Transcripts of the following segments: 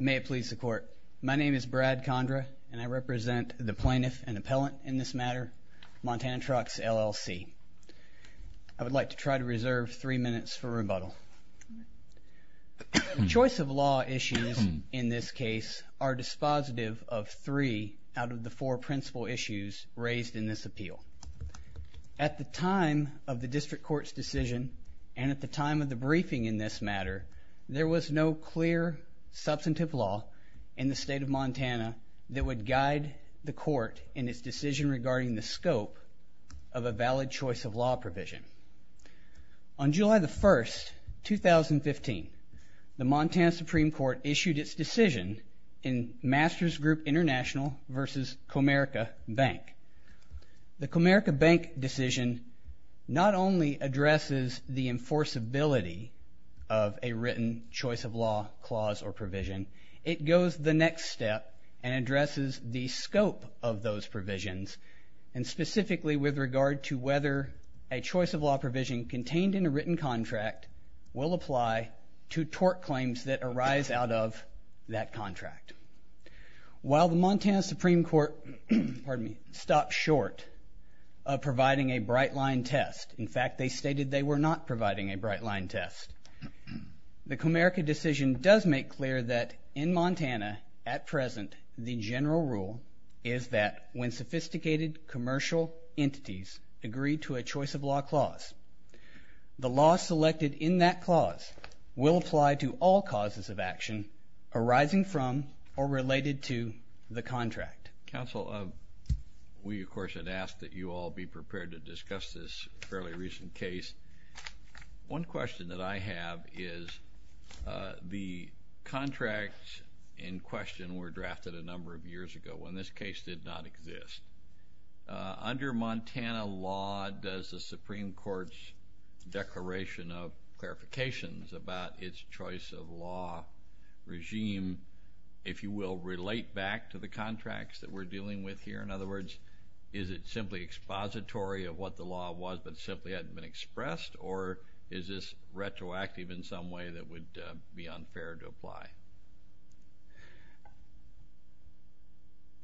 May it please the court. My name is Brad Condra and I represent the plaintiff and appellant in this matter Montana Trucks LLC. I would like to try to reserve three minutes for rebuttal. Choice of law issues in this case are dispositive of three out of the four principal issues raised in this appeal. At the time of the district court's decision and at the time of the briefing in this matter there was no clear substantive law in the state of Montana that would guide the court in its decision regarding the scope of a valid choice of law provision. On July the 1st 2015 the Montana Supreme Court issued its decision in Masters Group International versus Comerica Bank. The Comerica Bank decision not only addresses the enforceability of a written choice of law clause or provision it goes the next step and addresses the scope of those provisions and specifically with regard to whether a choice of law provision contained in a written contract will apply to tort claims that arise out of that contract. While the Montana Supreme Court stopped short of providing a bright line test in the case of the Comerica Bank case it stated they were not providing a bright line test. The Comerica decision does make clear that in Montana at present the general rule is that when sophisticated commercial entities agree to a choice of law clause the law selected in that clause will apply to all causes of action arising from or related to the contract. Counsel we of course had asked that you all be prepared to discuss this fairly recent case. One question that I have is the contracts in question were drafted a number of years ago when this case did not exist. Under Montana law does the Supreme Court's declaration of clarifications about its choice of law regime if you will relate back to the contracts that we're dealing with here in other words is it simply expository of what the law was but simply hadn't expressed or is this retroactive in some way that would be unfair to apply?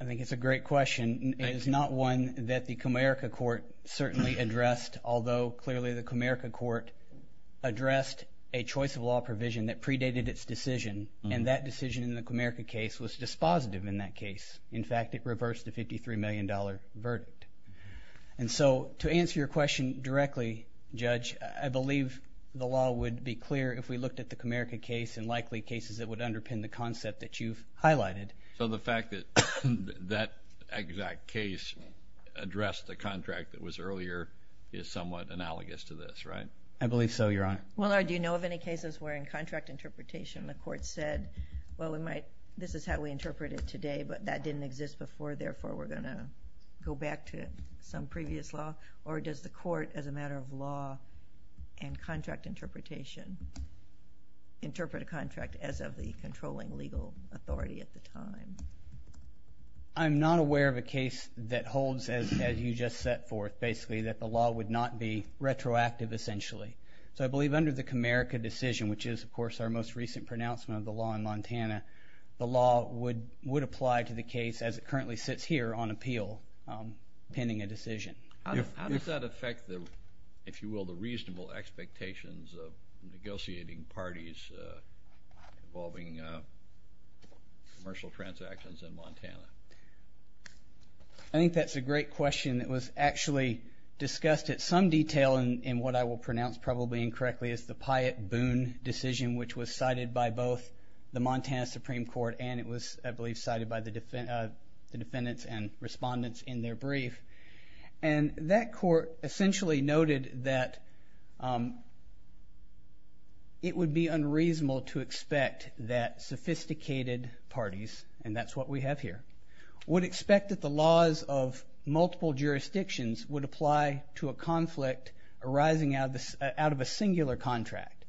I think it's a great question. It is not one that the Comerica court certainly addressed although clearly the Comerica court addressed a choice of law provision that predated its decision and that decision in the Comerica case was dispositive in that case. In fact it reversed the 53 million dollar verdict and so to answer your question directly judge I believe the law would be clear if we looked at the Comerica case and likely cases that would underpin the concept that you've highlighted. So the fact that that exact case addressed the contract that was earlier is somewhat analogous to this right? I believe so your honor. Well do you know of any cases where in contract interpretation the court said well we might this is how we interpret it today but that didn't exist before therefore we're going to go back to some previous law or does the court as a matter of law and contract interpretation interpret a contract as of the controlling legal authority at the time? I'm not aware of a case that holds as you just set forth basically that the law would not be retroactive essentially. So I believe under the Comerica decision which is of course our most recent pronouncement of the law in Montana the law would would apply to the case that currently sits here on appeal pending a decision. How does that affect the if you will the reasonable expectations of negotiating parties involving commercial transactions in Montana? I think that's a great question that was actually discussed at some detail in what I will pronounce probably incorrectly as the Pyatt Boone decision which was cited by both the Montana Supreme Court and it the defendants and respondents in their brief and that court essentially noted that it would be unreasonable to expect that sophisticated parties and that's what we have here would expect that the laws of multiple jurisdictions would apply to a conflict arising out of a singular contract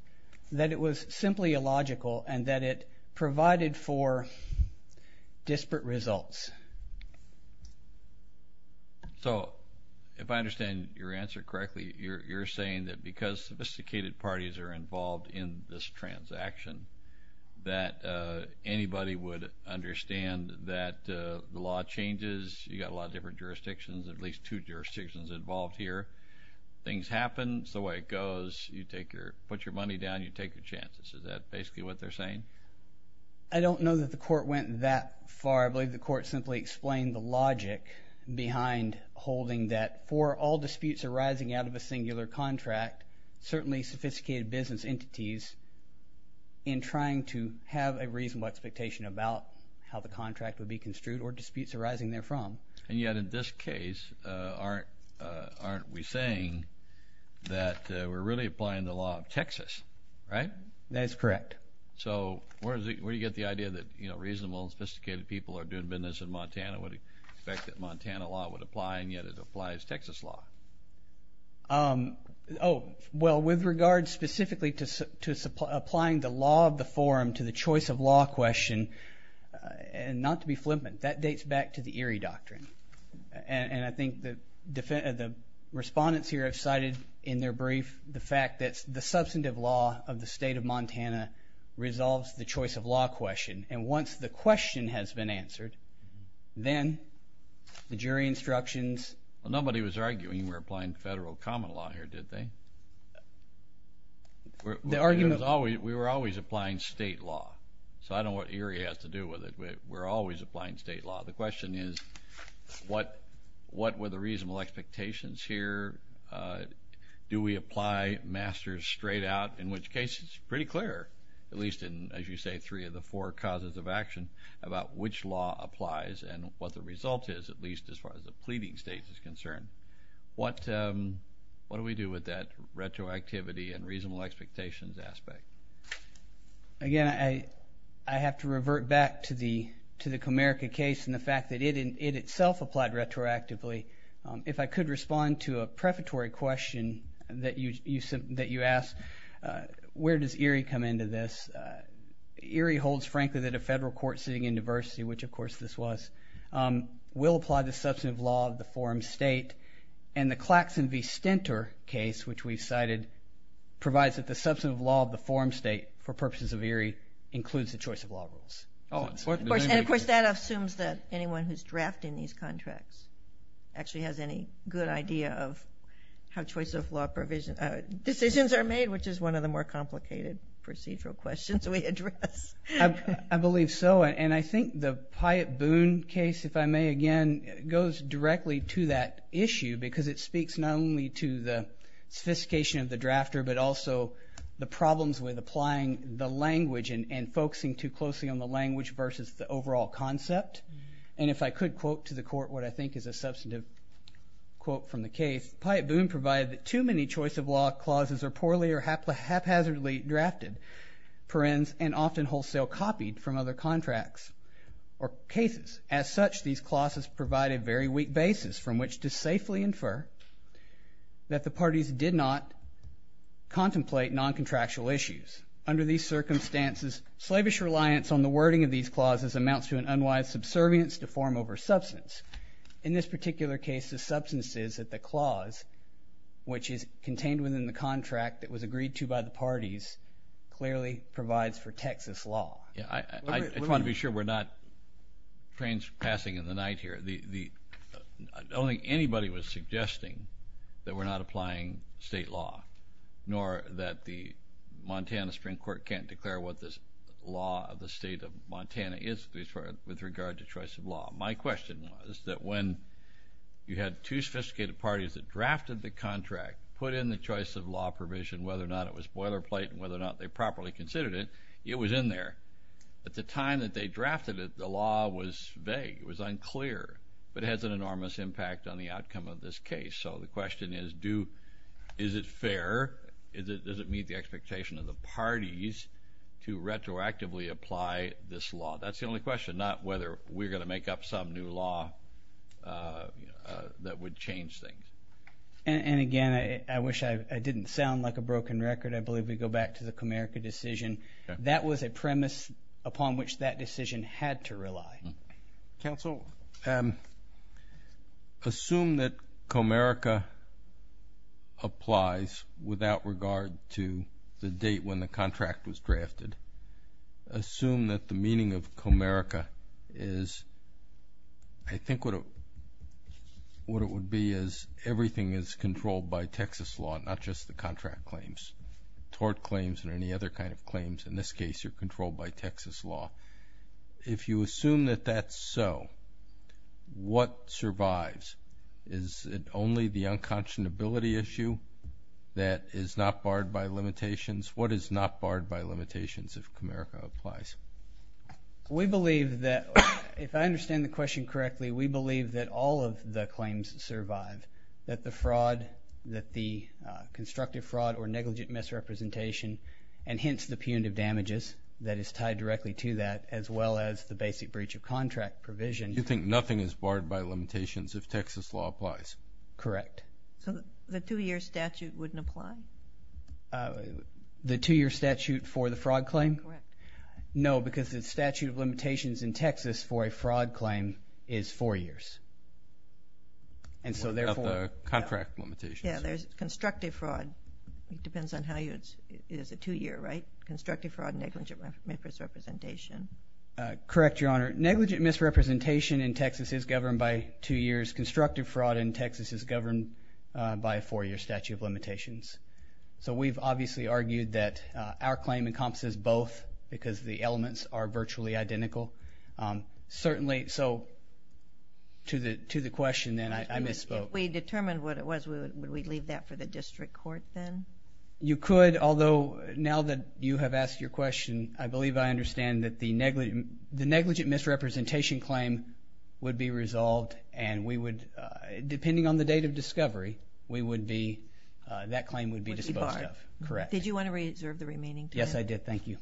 that it was simply illogical and that it provided for disparate results. So if I understand your answer correctly you're saying that because sophisticated parties are involved in this transaction that anybody would understand that the law changes you got a lot of different jurisdictions at least two jurisdictions involved here things happen it's the way it goes you take your put your money down you take your chances is that basically what they're saying? I don't know that the court went that far I believe the court simply explained the logic behind holding that for all disputes arising out of a singular contract certainly sophisticated business entities in trying to have a reasonable expectation about how the contract would be construed or disputes arising there from. And yet in this case aren't aren't we saying that we're really applying the law of Texas right? That's correct. So where do you get the idea that you know reasonable and sophisticated people are doing business in Montana would expect that Montana law would apply and yet it applies Texas law? Oh well with regards specifically to applying the law of the forum to the choice of law question and not to be flippant that dates back to the Erie Doctrine and I think the defense of the respondents here have cited in their brief the fact that the substantive law of the state of Montana resolves the choice of law question and once the question has been answered then the jury instructions. Well nobody was arguing we're applying federal common law here did they? The argument was always we were always applying state law so I don't what Erie has to do with it but we're always applying state law the question is what what were the reasonable expectations here? Do we apply masters straight out in which case it's pretty clear at least in as you say three of the four causes of action about which law applies and what the result is at least as far as the pleading states is concerned. What what do we do with that retroactivity and reasonable expectations aspect? Again I I have to it itself applied retroactively if I could respond to a prefatory question that you said that you asked where does Erie come into this? Erie holds frankly that a federal court sitting in diversity which of course this was will apply the substantive law of the forum state and the Clackson v. Stinter case which we've cited provides that the substantive law of the forum state for purposes of Erie includes the choice of law rules. And of course that assumes that anyone who's drafting these contracts actually has any good idea of how choice of law provision decisions are made which is one of the more complicated procedural questions we address. I believe so and I think the Pyatt Boone case if I may again goes directly to that issue because it speaks not only to the sophistication of the drafter but also the problems with applying the language and focusing too closely on the language versus the and if I could quote to the court what I think is a substantive quote from the case, Pyatt Boone provided that too many choice of law clauses are poorly or haphazardly drafted, parens, and often wholesale copied from other contracts or cases. As such these clauses provide a very weak basis from which to safely infer that the parties did not contemplate non-contractual issues. Under these circumstances slavish reliance on the wording of these clauses amounts to unwise subservience to form over substance. In this particular case the substance is that the clause which is contained within the contract that was agreed to by the parties clearly provides for Texas law. Yeah I want to be sure we're not passing in the night here. Only anybody was suggesting that we're not applying state law nor that the Montana Supreme Court can't declare what this law of the state of Montana is with regard to choice of law. My question was that when you had two sophisticated parties that drafted the contract, put in the choice of law provision, whether or not it was boilerplate and whether or not they properly considered it, it was in there. At the time that they drafted it the law was vague, it was unclear, but it has an enormous impact on the outcome of this case. So the question is, is it fair, does it meet the expectation of the parties to retroactively apply this law? That's the only question, not whether we're going to make up some new law that would change things. And again I wish I didn't sound like a broken record. I believe we go back to the Comerica decision. That was a premise upon which that decision had to rely. Counsel, assume that Comerica applies without regard to the date when the contract was drafted. Assume that the meaning of Comerica is, I think what it would be is everything is controlled by Texas law, not just the contract claims. Tort claims and any other kind of claims in this case are controlled by Texas law. If you assume that that's so, what survives? Is it only the unconscionability issue that is not barred by limitations? What is not barred by limitations if Comerica applies? We believe that, if I understand the question correctly, we believe that all of the claims survive. That the fraud, that the constructive fraud or negligent misrepresentation and hence the punitive damages that is tied directly to that, as well as the basic breach of contract provision. You think nothing is barred by limitations if Texas law applies? Correct. So the two-year statute wouldn't apply? The two-year statute for the fraud claim? Correct. No, because the statute of limitations in Texas for a fraud claim is four years. And so therefore. The contract limitations. Yeah, there's constructive fraud. It depends on how you, it is a two-year, right? Constructive fraud and negligent misrepresentation. Correct, Your Honor. Negligent misrepresentation in Texas is governed by two years. Constructive fraud in Texas is governed by a four-year statute of limitations. So we've obviously argued that our claim encompasses both because the elements are virtually identical. Certainly, so to the to the question then, I misspoke. If we determined what it was, would we leave that for the district court then? You could, although now that you have asked your question, I believe I understand that the negligent misrepresentation claim would be resolved and we would, depending on the date of discovery, we would be, that claim would be disposed of. Correct. Did you want to reserve the remaining time? Yes, I did. Thank you.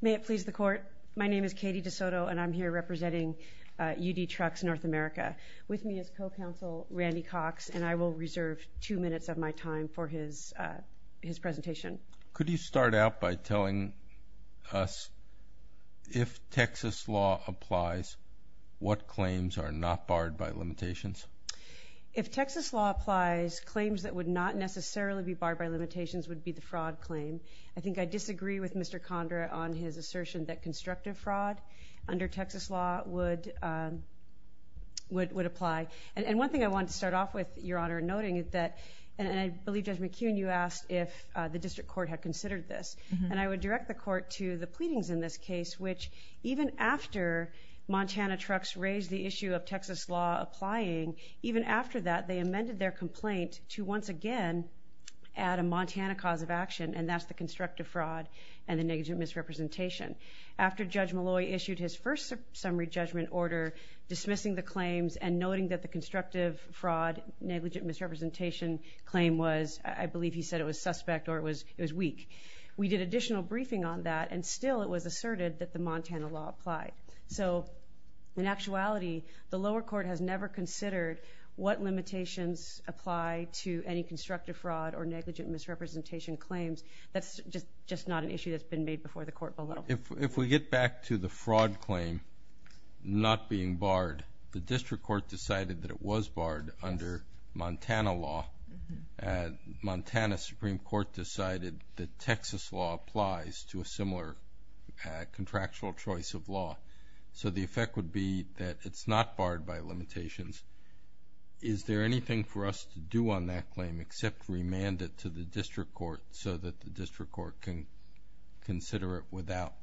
May it please the court, my name is Katie DeSoto and I'm here representing UD Trucks North America. With me is co-counsel Randy Cox and I will reserve two minutes of my time for his, his presentation. Could you start out by telling us if Texas law applies, what claims are not barred by limitations? If Texas law applies, claims that would not necessarily be barred by limitations would be the fraud claim. I think I disagree with Mr. Condra on his assertion that constructive fraud under Texas law would, would apply. And one thing I want to start off with, Your Honor, noting that, and I believe Judge McKeon, you asked if the district court had considered this. And I would direct the court to the pleadings in this case, which even after Montana Trucks raised the issue of Texas law applying, even after that, they amended their complaint to once again add a Montana cause of action, and that's the constructive fraud and the negligent misrepresentation. After Judge Malloy issued his first summary judgment order dismissing the claims and noting that the constructive fraud, negligent misrepresentation claim was, I believe he said it was suspect or it was, it was weak. We did additional briefing on that and still it was asserted that the Montana law applied. So in terms of whether limitations apply to any constructive fraud or negligent misrepresentation claims, that's just, just not an issue that's been made before the court below. If, if we get back to the fraud claim not being barred, the district court decided that it was barred under Montana law. Montana Supreme Court decided that Texas law applies to a similar contractual choice of law. So the effect would be that it's not barred by limitations. Is there anything for us to do on that claim except remand it to the district court so that the district court can consider it without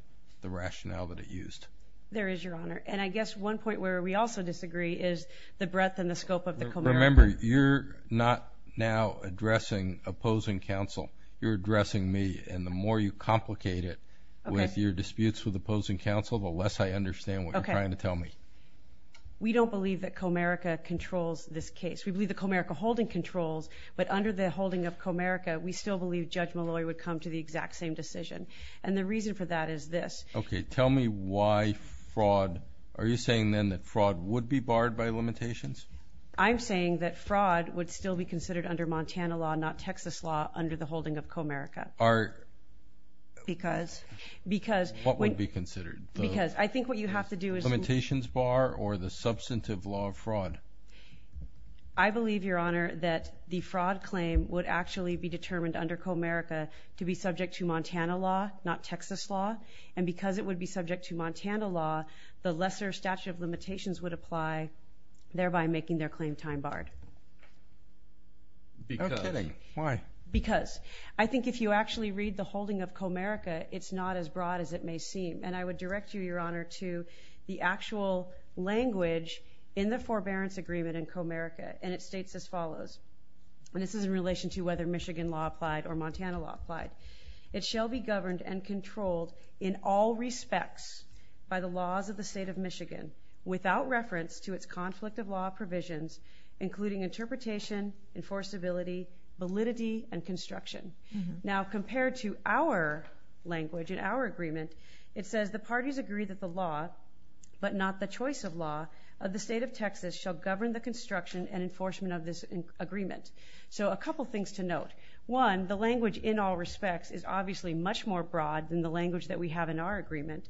the rationale that it used? There is, Your Honor. And I guess one point where we also disagree is the breadth and the scope of the... Remember, you're not now addressing opposing counsel. You're addressing me and the more you complicate it with your disputes with opposing counsel, the less I understand what you're trying to tell me. We don't believe that Comerica controls this case. We believe that Comerica holding controls, but under the holding of Comerica, we still believe Judge Malloy would come to the exact same decision. And the reason for that is this. Okay, tell me why fraud... Are you saying then that fraud would be barred by limitations? I'm saying that fraud would still be considered under Montana law, not Texas law, under the holding of Comerica. Are... Because... Because... What would be considered? Because I think what you have to do is... Limitations bar or the substantive law of fraud? I believe, Your Honor, that the fraud claim would actually be determined under Comerica to be subject to Montana law, not Texas law. And because it would be subject to Montana law, the lesser statute of limitations would apply, thereby making their claim time barred. Because... No kidding. Why? Because. I think if you actually read the holding of Comerica, it's not as broad as it may seem. And I would direct you, Your Honor, to the actual language in the forbearance agreement in Comerica, and it states as follows. And this is in relation to whether Michigan law applied or Montana law applied. It shall be governed and controlled in all respects by the laws of the state of Michigan, without reference to its conflict of law provisions, including interpretation, enforceability, validity, and construction. Now, compared to our language in our agreement, it says the parties agree that the law, but not the choice of law, of the state of Texas shall govern the construction and enforcement of this agreement. So a couple of things to note. One, the language in all respects is obviously much more broad than the language that we have in our agreement.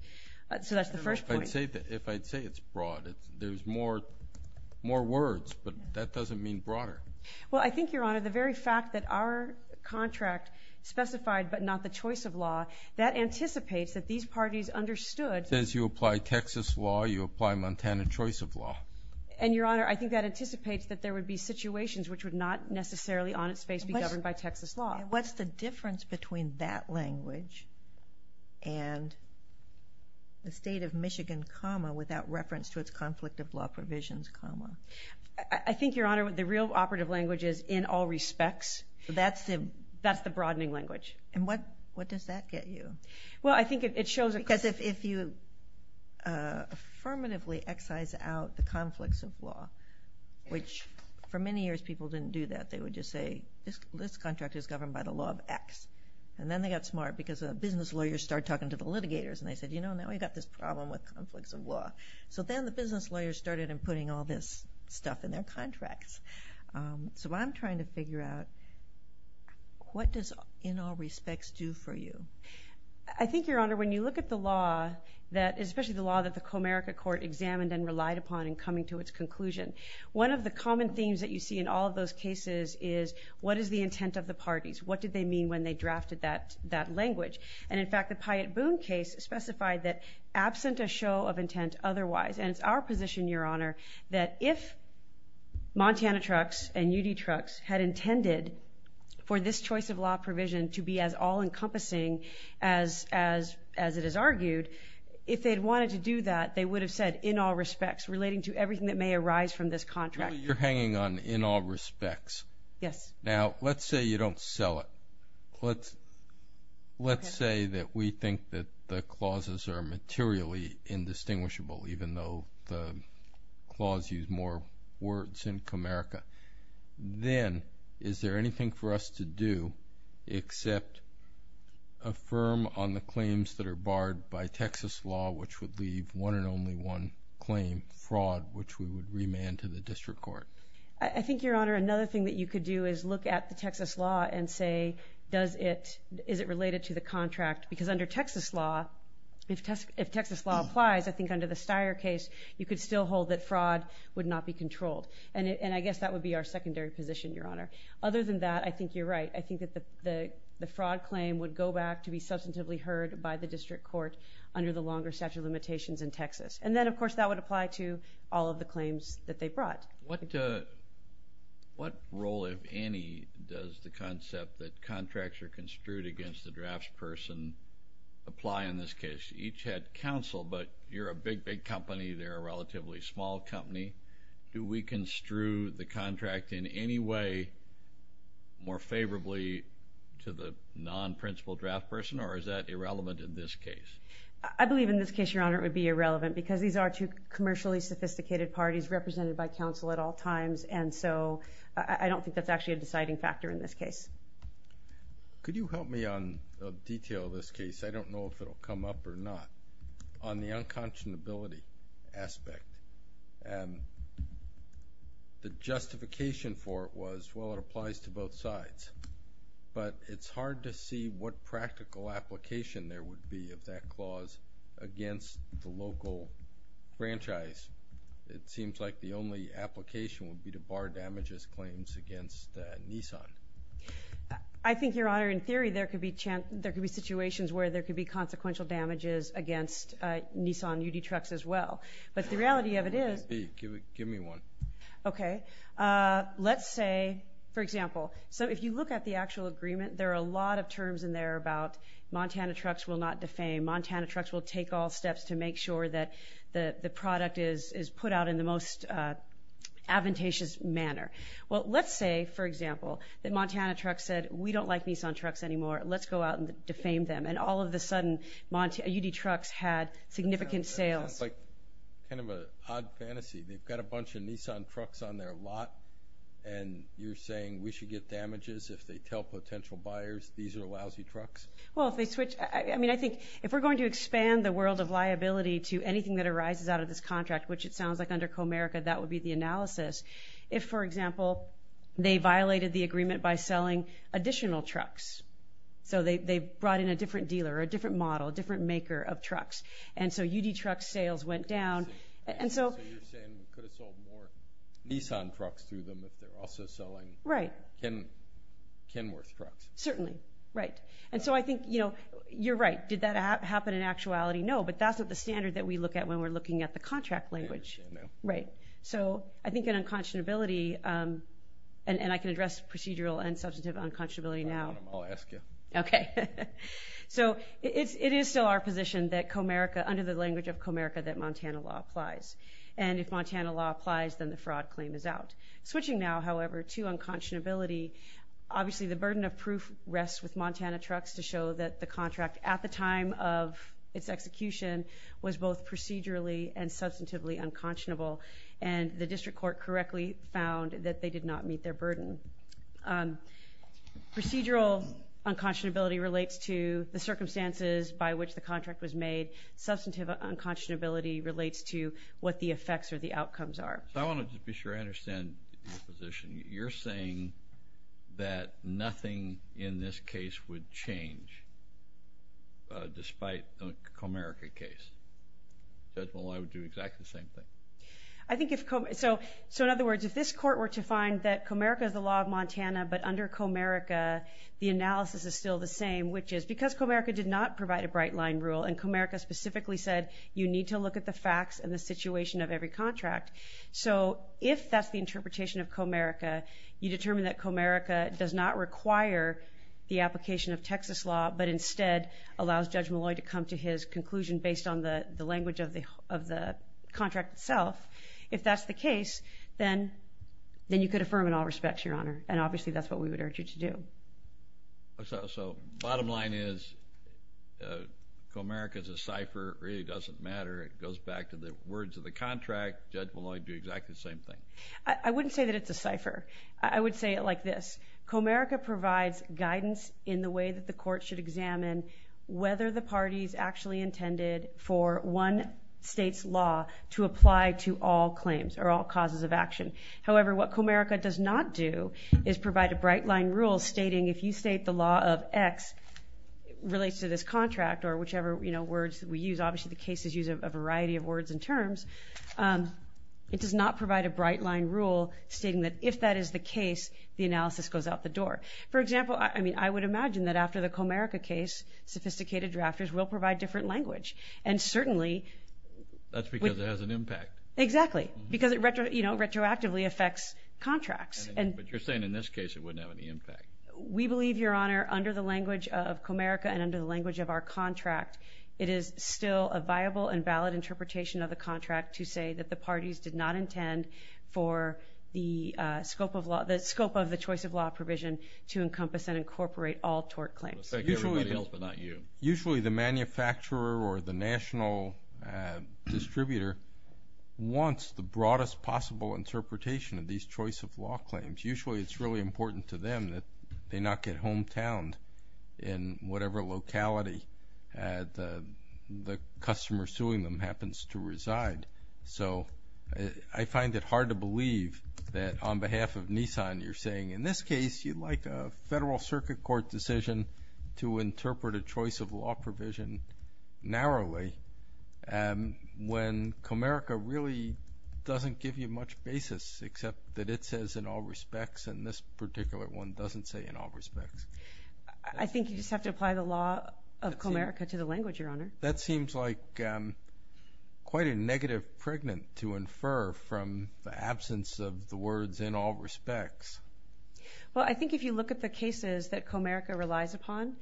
So that's the first point. If I'd say it's broad, there's more words, but that doesn't mean broader. Well, I think, Your Honor, the very fact that our contract specified, but not the choice of law, that anticipates that these parties understood... Says you apply Texas law, you apply Montana choice of law. And, Your Honor, I think that anticipates that there would be situations which would not necessarily on its face be governed by Texas law. And what's the difference between that language and the state of Michigan, comma, without reference to its conflict of law provisions, comma? I think, Your Honor, the real operative language is, in all respects, that's the broadening language. And what does that get you? Well, I think it shows... Because if you affirmatively excise out the conflicts of law, which for many years people didn't do that, they would just say, this contract is governed by the law of X. And then they got smart because the business lawyers started talking to the litigators, and they said, you know, now we've got this problem with conflicts of law, and they're putting all this stuff in their contracts. So I'm trying to figure out, what does, in all respects, do for you? I think, Your Honor, when you look at the law, that... Especially the law that the Comerica Court examined and relied upon in coming to its conclusion, one of the common themes that you see in all of those cases is, what is the intent of the parties? What did they mean when they drafted that language? And in fact, the Pyatt Boone case specified that absent a show of intent otherwise, and it's our position, Your Honor, that if Montana Trucks and UD Trucks had intended for this choice of law provision to be as all encompassing as it is argued, if they'd wanted to do that, they would have said, in all respects, relating to everything that may arise from this contract. You're hanging on in all respects. Yes. Now, let's say you don't sell it. Let's say that we think that the clauses are materially indistinguishable, even though the clause used more words than Comerica. Then, is there anything for us to do except affirm on the claims that are barred by Texas law, which would leave one and only one claim, fraud, which we would remand to the district court? I think, Your Honor, another thing that you could do is look at the Texas law and say, does it... Is it related to the contract? Because under Texas law, if Texas law applies, I think under the Dyer case, you could still hold that fraud would not be controlled. And I guess that would be our secondary position, Your Honor. Other than that, I think you're right. I think that the fraud claim would go back to be substantively heard by the district court under the longer statute of limitations in Texas. And then, of course, that would apply to all of the claims that they brought. What role, if any, does the concept that contracts are construed against the drafts person apply in this case? Each had counsel, but you're a big, big company. They're a relatively small company. Do we construe the contract in any way more favorably to the non principal draft person, or is that irrelevant in this case? I believe in this case, Your Honor, it would be irrelevant because these are two commercially sophisticated parties represented by counsel at all times. And so I don't think that's actually a deciding factor in this case. Could you help me on the detail of this case? I don't know if it'll come up or not. On the unconscionability aspect, the justification for it was, well, it applies to both sides. But it's hard to see what practical application there would be of that clause against the local franchise. It seems like the only application would be to bar damages claims against Nissan. I think, Your Honor, in theory, there could be situations where there could be consequential damages against Nissan UD trucks as well. But the reality of it is... Give me one. Okay. Let's say, for example, so if you look at the actual agreement, there are a lot of terms in there about Montana trucks will not defame, Montana trucks will take all steps to make sure that the product is put out in the most advantageous manner. Well, let's say, for example, that Montana trucks said, we don't like Nissan trucks anymore, let's go out and defame them. And all of a sudden, UD trucks had significant sales. That sounds like kind of an odd fantasy. They've got a bunch of Nissan trucks on their lot and you're saying we should get damages if they tell potential buyers these are lousy trucks? Well, if they switch... I think if we're going to expand the world of liability to anything that arises out of this contract, which it sounds like under Comerica, that would be the analysis. If, for example, they violated the agreement by selling additional trucks. So they brought in a different dealer or a different model, a different maker of trucks. And so UD truck sales went down and so... So you're saying we could have sold more Nissan trucks to them if they're also selling... Right. Kenworth trucks. Certainly. Right. And so I think you're right. Did that happen in actuality? No, but that's what the standard that we look at when we're looking at the contract language. Right. So I think in unconscionability... And I can address procedural and substantive unconscionability now. I'll ask you. Okay. So it is still our position that Comerica, under the language of Comerica, that Montana law applies. And if Montana law applies, then the fraud claim is out. Switching now, however, to unconscionability, obviously the burden of proof rests with Montana trucks to show that the contract at the time of its execution was both procedurally and substantively unconscionable. And the district court correctly found that they did not meet their burden. Procedural unconscionability relates to the circumstances by which the contract was made. Substantive unconscionability relates to what the effects or the outcomes are. So I wanna just be sure I understand your position. You're saying that nothing in this case would change despite the Comerica case. Judgmental law would do exactly the same thing. I think if... So in other words, if this court were to find that Comerica is the law of Montana, but under Comerica, the analysis is still the same, which is because Comerica did not provide a bright line rule, and Comerica specifically said, you need to look at the facts and the facts of Comerica. You determine that Comerica does not require the application of Texas law, but instead allows Judge Malloy to come to his conclusion based on the language of the contract itself. If that's the case, then you could affirm in all respects, Your Honor. And obviously, that's what we would urge you to do. So bottom line is Comerica is a cipher. It really doesn't matter. It goes back to the words of the contract. Judge Malloy would do exactly the same thing. I wouldn't say that it's a cipher. I would say it like this. Comerica provides guidance in the way that the court should examine whether the party's actually intended for one state's law to apply to all claims or all causes of action. However, what Comerica does not do is provide a bright line rule stating, if you state the law of X relates to this contract, or whichever words that we use. Obviously, the cases use a variety of rules stating that, if that is the case, the analysis goes out the door. For example, I would imagine that after the Comerica case, sophisticated drafters will provide different language. And certainly... That's because it has an impact. Exactly. Because it retroactively affects contracts. But you're saying in this case, it wouldn't have any impact. We believe, Your Honor, under the language of Comerica and under the language of our contract, it is still a viable and valid interpretation of the contract to say that the parties did not intend for the scope of law... The scope of the choice of law provision to encompass and incorporate all tort claims. Usually... Everybody else but not you. Usually, the manufacturer or the national distributor wants the broadest possible interpretation of these choice of law claims. Usually, it's really important to them that they not get hometowned in whatever locality the customer suing them happens to reside. So I find it hard to believe that on behalf of Nissan, you're saying, in this case, you'd like a federal circuit court decision to interpret a choice of law provision narrowly when Comerica really doesn't give you much basis except that it says, in all respects, and this particular one doesn't say, in all respects. I think you just have to apply the law of Comerica to the language, Your Honor. That seems like quite a negative pregnant to infer from the absence of the words, in all respects. Well, I think if you look at the cases that Comerica relies upon,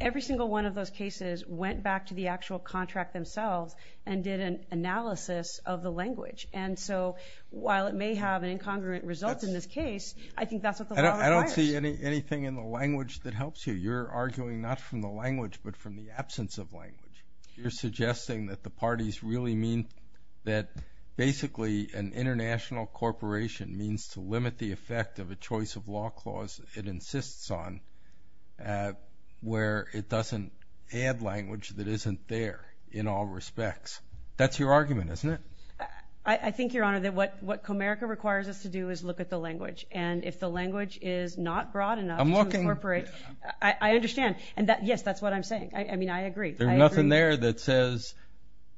every single one of those cases went back to the actual contract themselves and did an analysis of the language. And so while it may have an incongruent result in this case, I think that's what the law requires. I don't see anything in the language that helps you. You're arguing not from the language but from the absence of language. You're suggesting that the parties really mean that basically an international corporation means to limit the effect of a choice of law clause it insists on, where it doesn't add language that isn't there, in all respects. That's your argument, isn't it? I think, Your Honor, that what Comerica requires us to do is look at the language. And if the language is not broad enough to incorporate... I'm looking... I understand. And yes, that's what I'm saying. I mean, I agree. There's nothing there that says,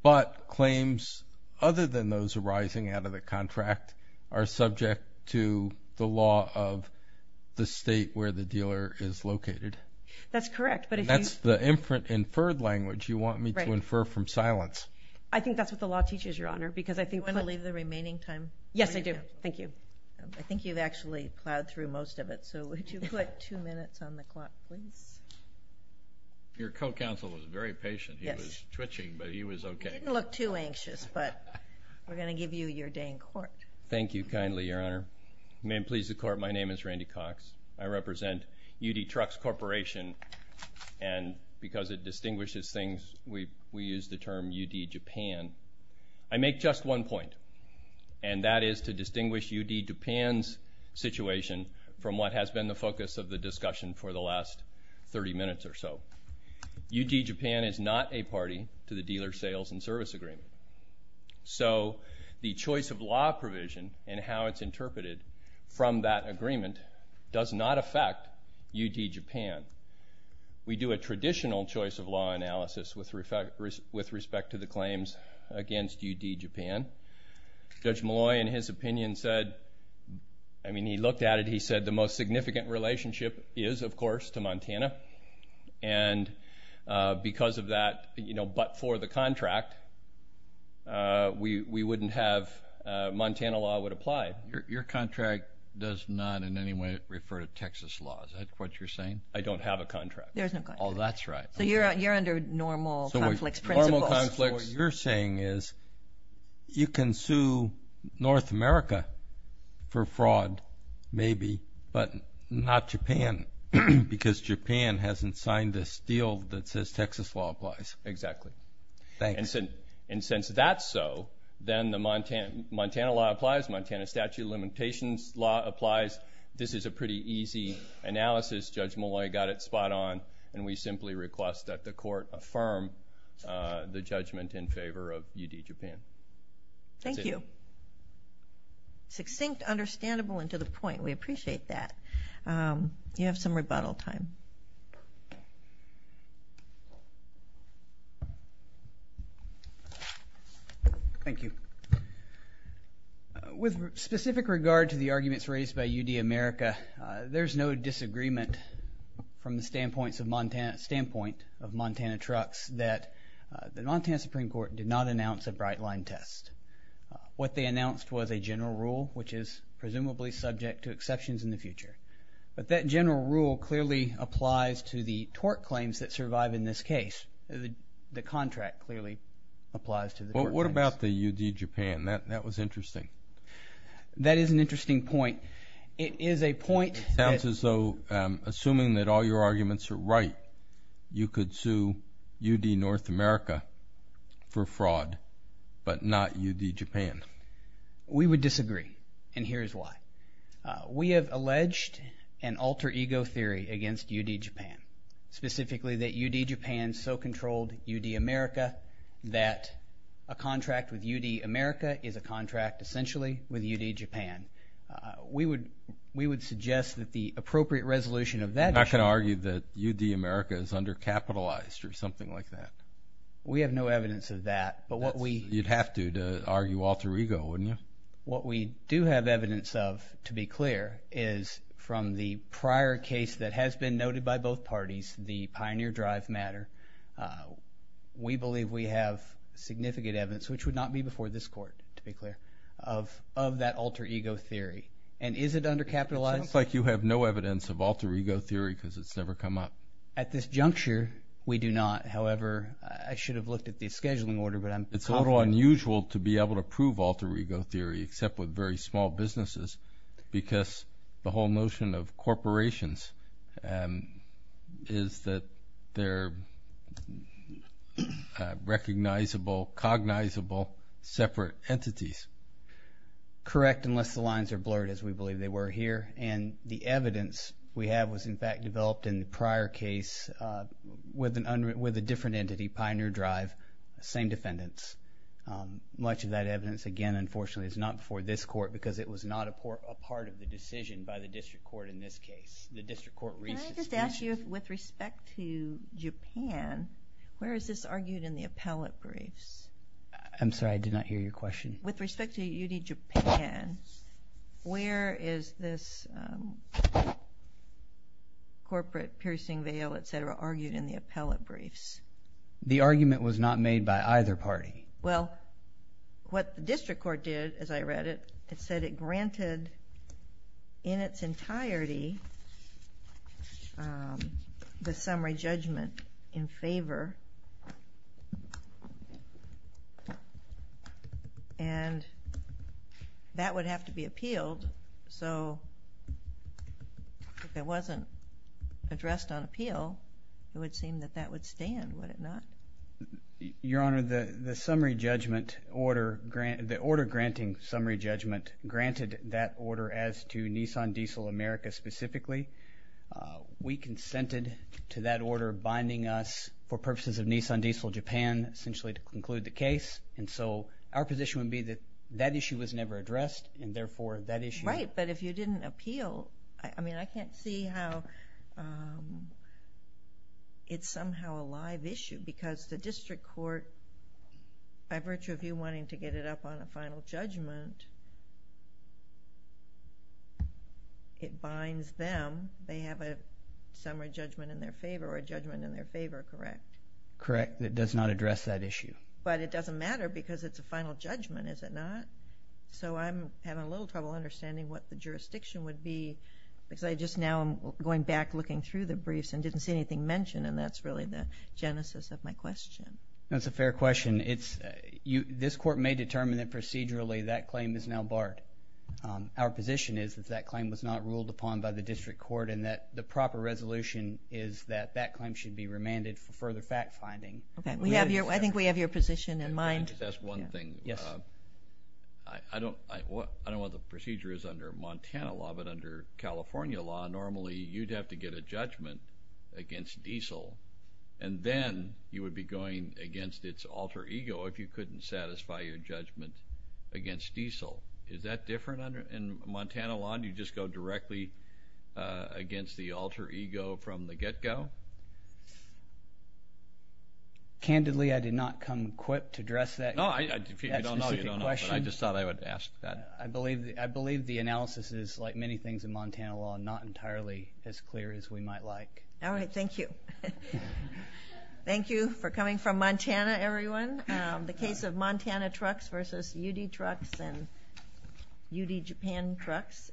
but claims other than those arising out of the contract are subject to the law of the state where the dealer is located. That's correct, but if you... That's the inferred language you want me to answer, because I think... Do you want to leave the remaining time? Yes, I do. Thank you. I think you've actually plowed through most of it, so would you put two minutes on the clock, please? Your co counsel was very patient. He was twitching, but he was okay. He didn't look too anxious, but we're gonna give you your day in court. Thank you kindly, Your Honor. May it please the court, my name is Randy Cox. I represent UD Trucks Corporation. And because it distinguishes things, we use the term UD Japan. I make just one point, and that is to distinguish UD Japan's situation from what has been the focus of the discussion for the last 30 minutes or so. UD Japan is not a party to the dealer sales and service agreement. So the choice of law provision and how it's interpreted from that agreement does not affect UD Japan. We do a traditional choice of law analysis with respect to the claims against UD Japan. Judge Molloy, in his opinion, said... I mean, he looked at it, he said the most significant relationship is, of course, to Montana. And because of that, but for the contract, we wouldn't have... Montana law would apply. Your contract does not in any way refer to Texas laws. Is that what you're saying? I don't have a contract. There's no contract. Oh, that's right. So you're under normal conflicts. What you're saying is, you can sue North America for fraud, maybe, but not Japan, because Japan hasn't signed this deal that says Texas law applies. Exactly. And since that's so, then the Montana law applies, Montana statute of limitations law applies. This is a pretty easy analysis. Judge Molloy got it spot on, and we simply request that the judgment in favor of UD Japan. Thank you. Succinct, understandable, and to the point. We appreciate that. You have some rebuttal time. Thank you. With specific regard to the arguments raised by UD America, there's no disagreement from the standpoint of Montana Trucks that the Montana Supreme Court did not announce a bright line test. What they announced was a general rule, which is presumably subject to exceptions in the future. But that general rule clearly applies to the tort claims that survive in this case. The contract clearly applies to the tort claims. What about the UD Japan? That was interesting. That is an interesting point. It is a point... It sounds as though, assuming that all your arguments are right, you could sue UD North America for fraud, but not UD Japan. We would disagree, and here's why. We have alleged an alter ego theory against UD Japan, specifically that UD Japan so controlled UD America that a contract with UD America is a contract essentially with UD Japan. We would suggest that the appropriate resolution of that issue... I'm not gonna argue that UD America is under capitalized or something like that. We have no evidence of that, but what we... You'd have to, to argue alter ego, wouldn't you? What we do have evidence of, to be clear, is from the prior case that has been noted by both parties, the Pioneer Drive matter. We believe we have significant evidence, which would not be before this court, to be clear, of that alter ego theory. And is it under capitalized? It sounds like you have no evidence of alter ego theory, because it's never come up. At this juncture, we do not. However, I should have looked at the scheduling order, but I'm confident... It's a little unusual to be able to prove alter ego theory, except with very small businesses, because the whole notion of corporations is that they're recognizable, cognizable, separate entities. Correct, unless the lines are blurred, as we believe they were here. And the evidence we have was, in fact, developed in the prior case with a different entity, Pioneer Drive, same defendants. Much of that evidence, again, unfortunately, is not before this court, because it was not a part of the decision by the district court in this case. The district court... Can I just ask you, with respect to Japan, where is this argued in the appellate briefs? I'm sorry, I did not hear your question. With respect to UD Japan, where is this corporate piercing veil, etc., argued in the appellate briefs? The argument was not made by either party. Well, what the district court did, as I read it, it said it granted, in its entirety, the summary judgment in favor, and that would have to be appealed. So, if it wasn't addressed on appeal, it would seem that that would stand, would it not? Your Honor, the summary judgment order, the order granting summary judgment, granted that order as to Nissan Diesel America specifically. We consented to that order binding us, for purposes of Nissan Diesel Japan, essentially, to conclude the case. And so, our position would be that that issue was never addressed, and therefore, that issue... Right, but if you didn't appeal... I can't see how it's somehow a live issue, because the district court, by virtue of you wanting to get it up on a final judgment, it binds them, they have a summary judgment in their favor, or a judgment in their favor, correct? Correct. It does not address that issue. But it doesn't matter, because it's a final judgment, is it not? So, I'm having a little trouble understanding what the jurisdiction would be, because I just now am going back, looking through the briefs, and didn't see anything mentioned, and that's really the genesis of my question. That's a fair question. This court may determine that procedurally, that claim is now barred. Our position is that that claim was not ruled upon by the district court, and that the proper resolution is that that claim should be remanded for further fact finding. Okay, I think we have your position in mind. Let me just ask one thing. Yes. I don't know what the procedure is under Montana law, but under California law, normally you'd have to get a judgment against Diesel, and then you would be going against its alter ego if you couldn't satisfy your judgment against Diesel. Is that different in Montana law? Do you just go directly against the alter ego from the get go? Candidly, I did not come equipped to address that. No, if you don't know, you don't know, but I just thought I would ask that. I believe the analysis is, like many things in Montana law, not entirely as clear as we might like. Alright, thank you. Thank you for coming from Montana, everyone. The case of Montana Trucks versus UD Trucks and UD Japan Trucks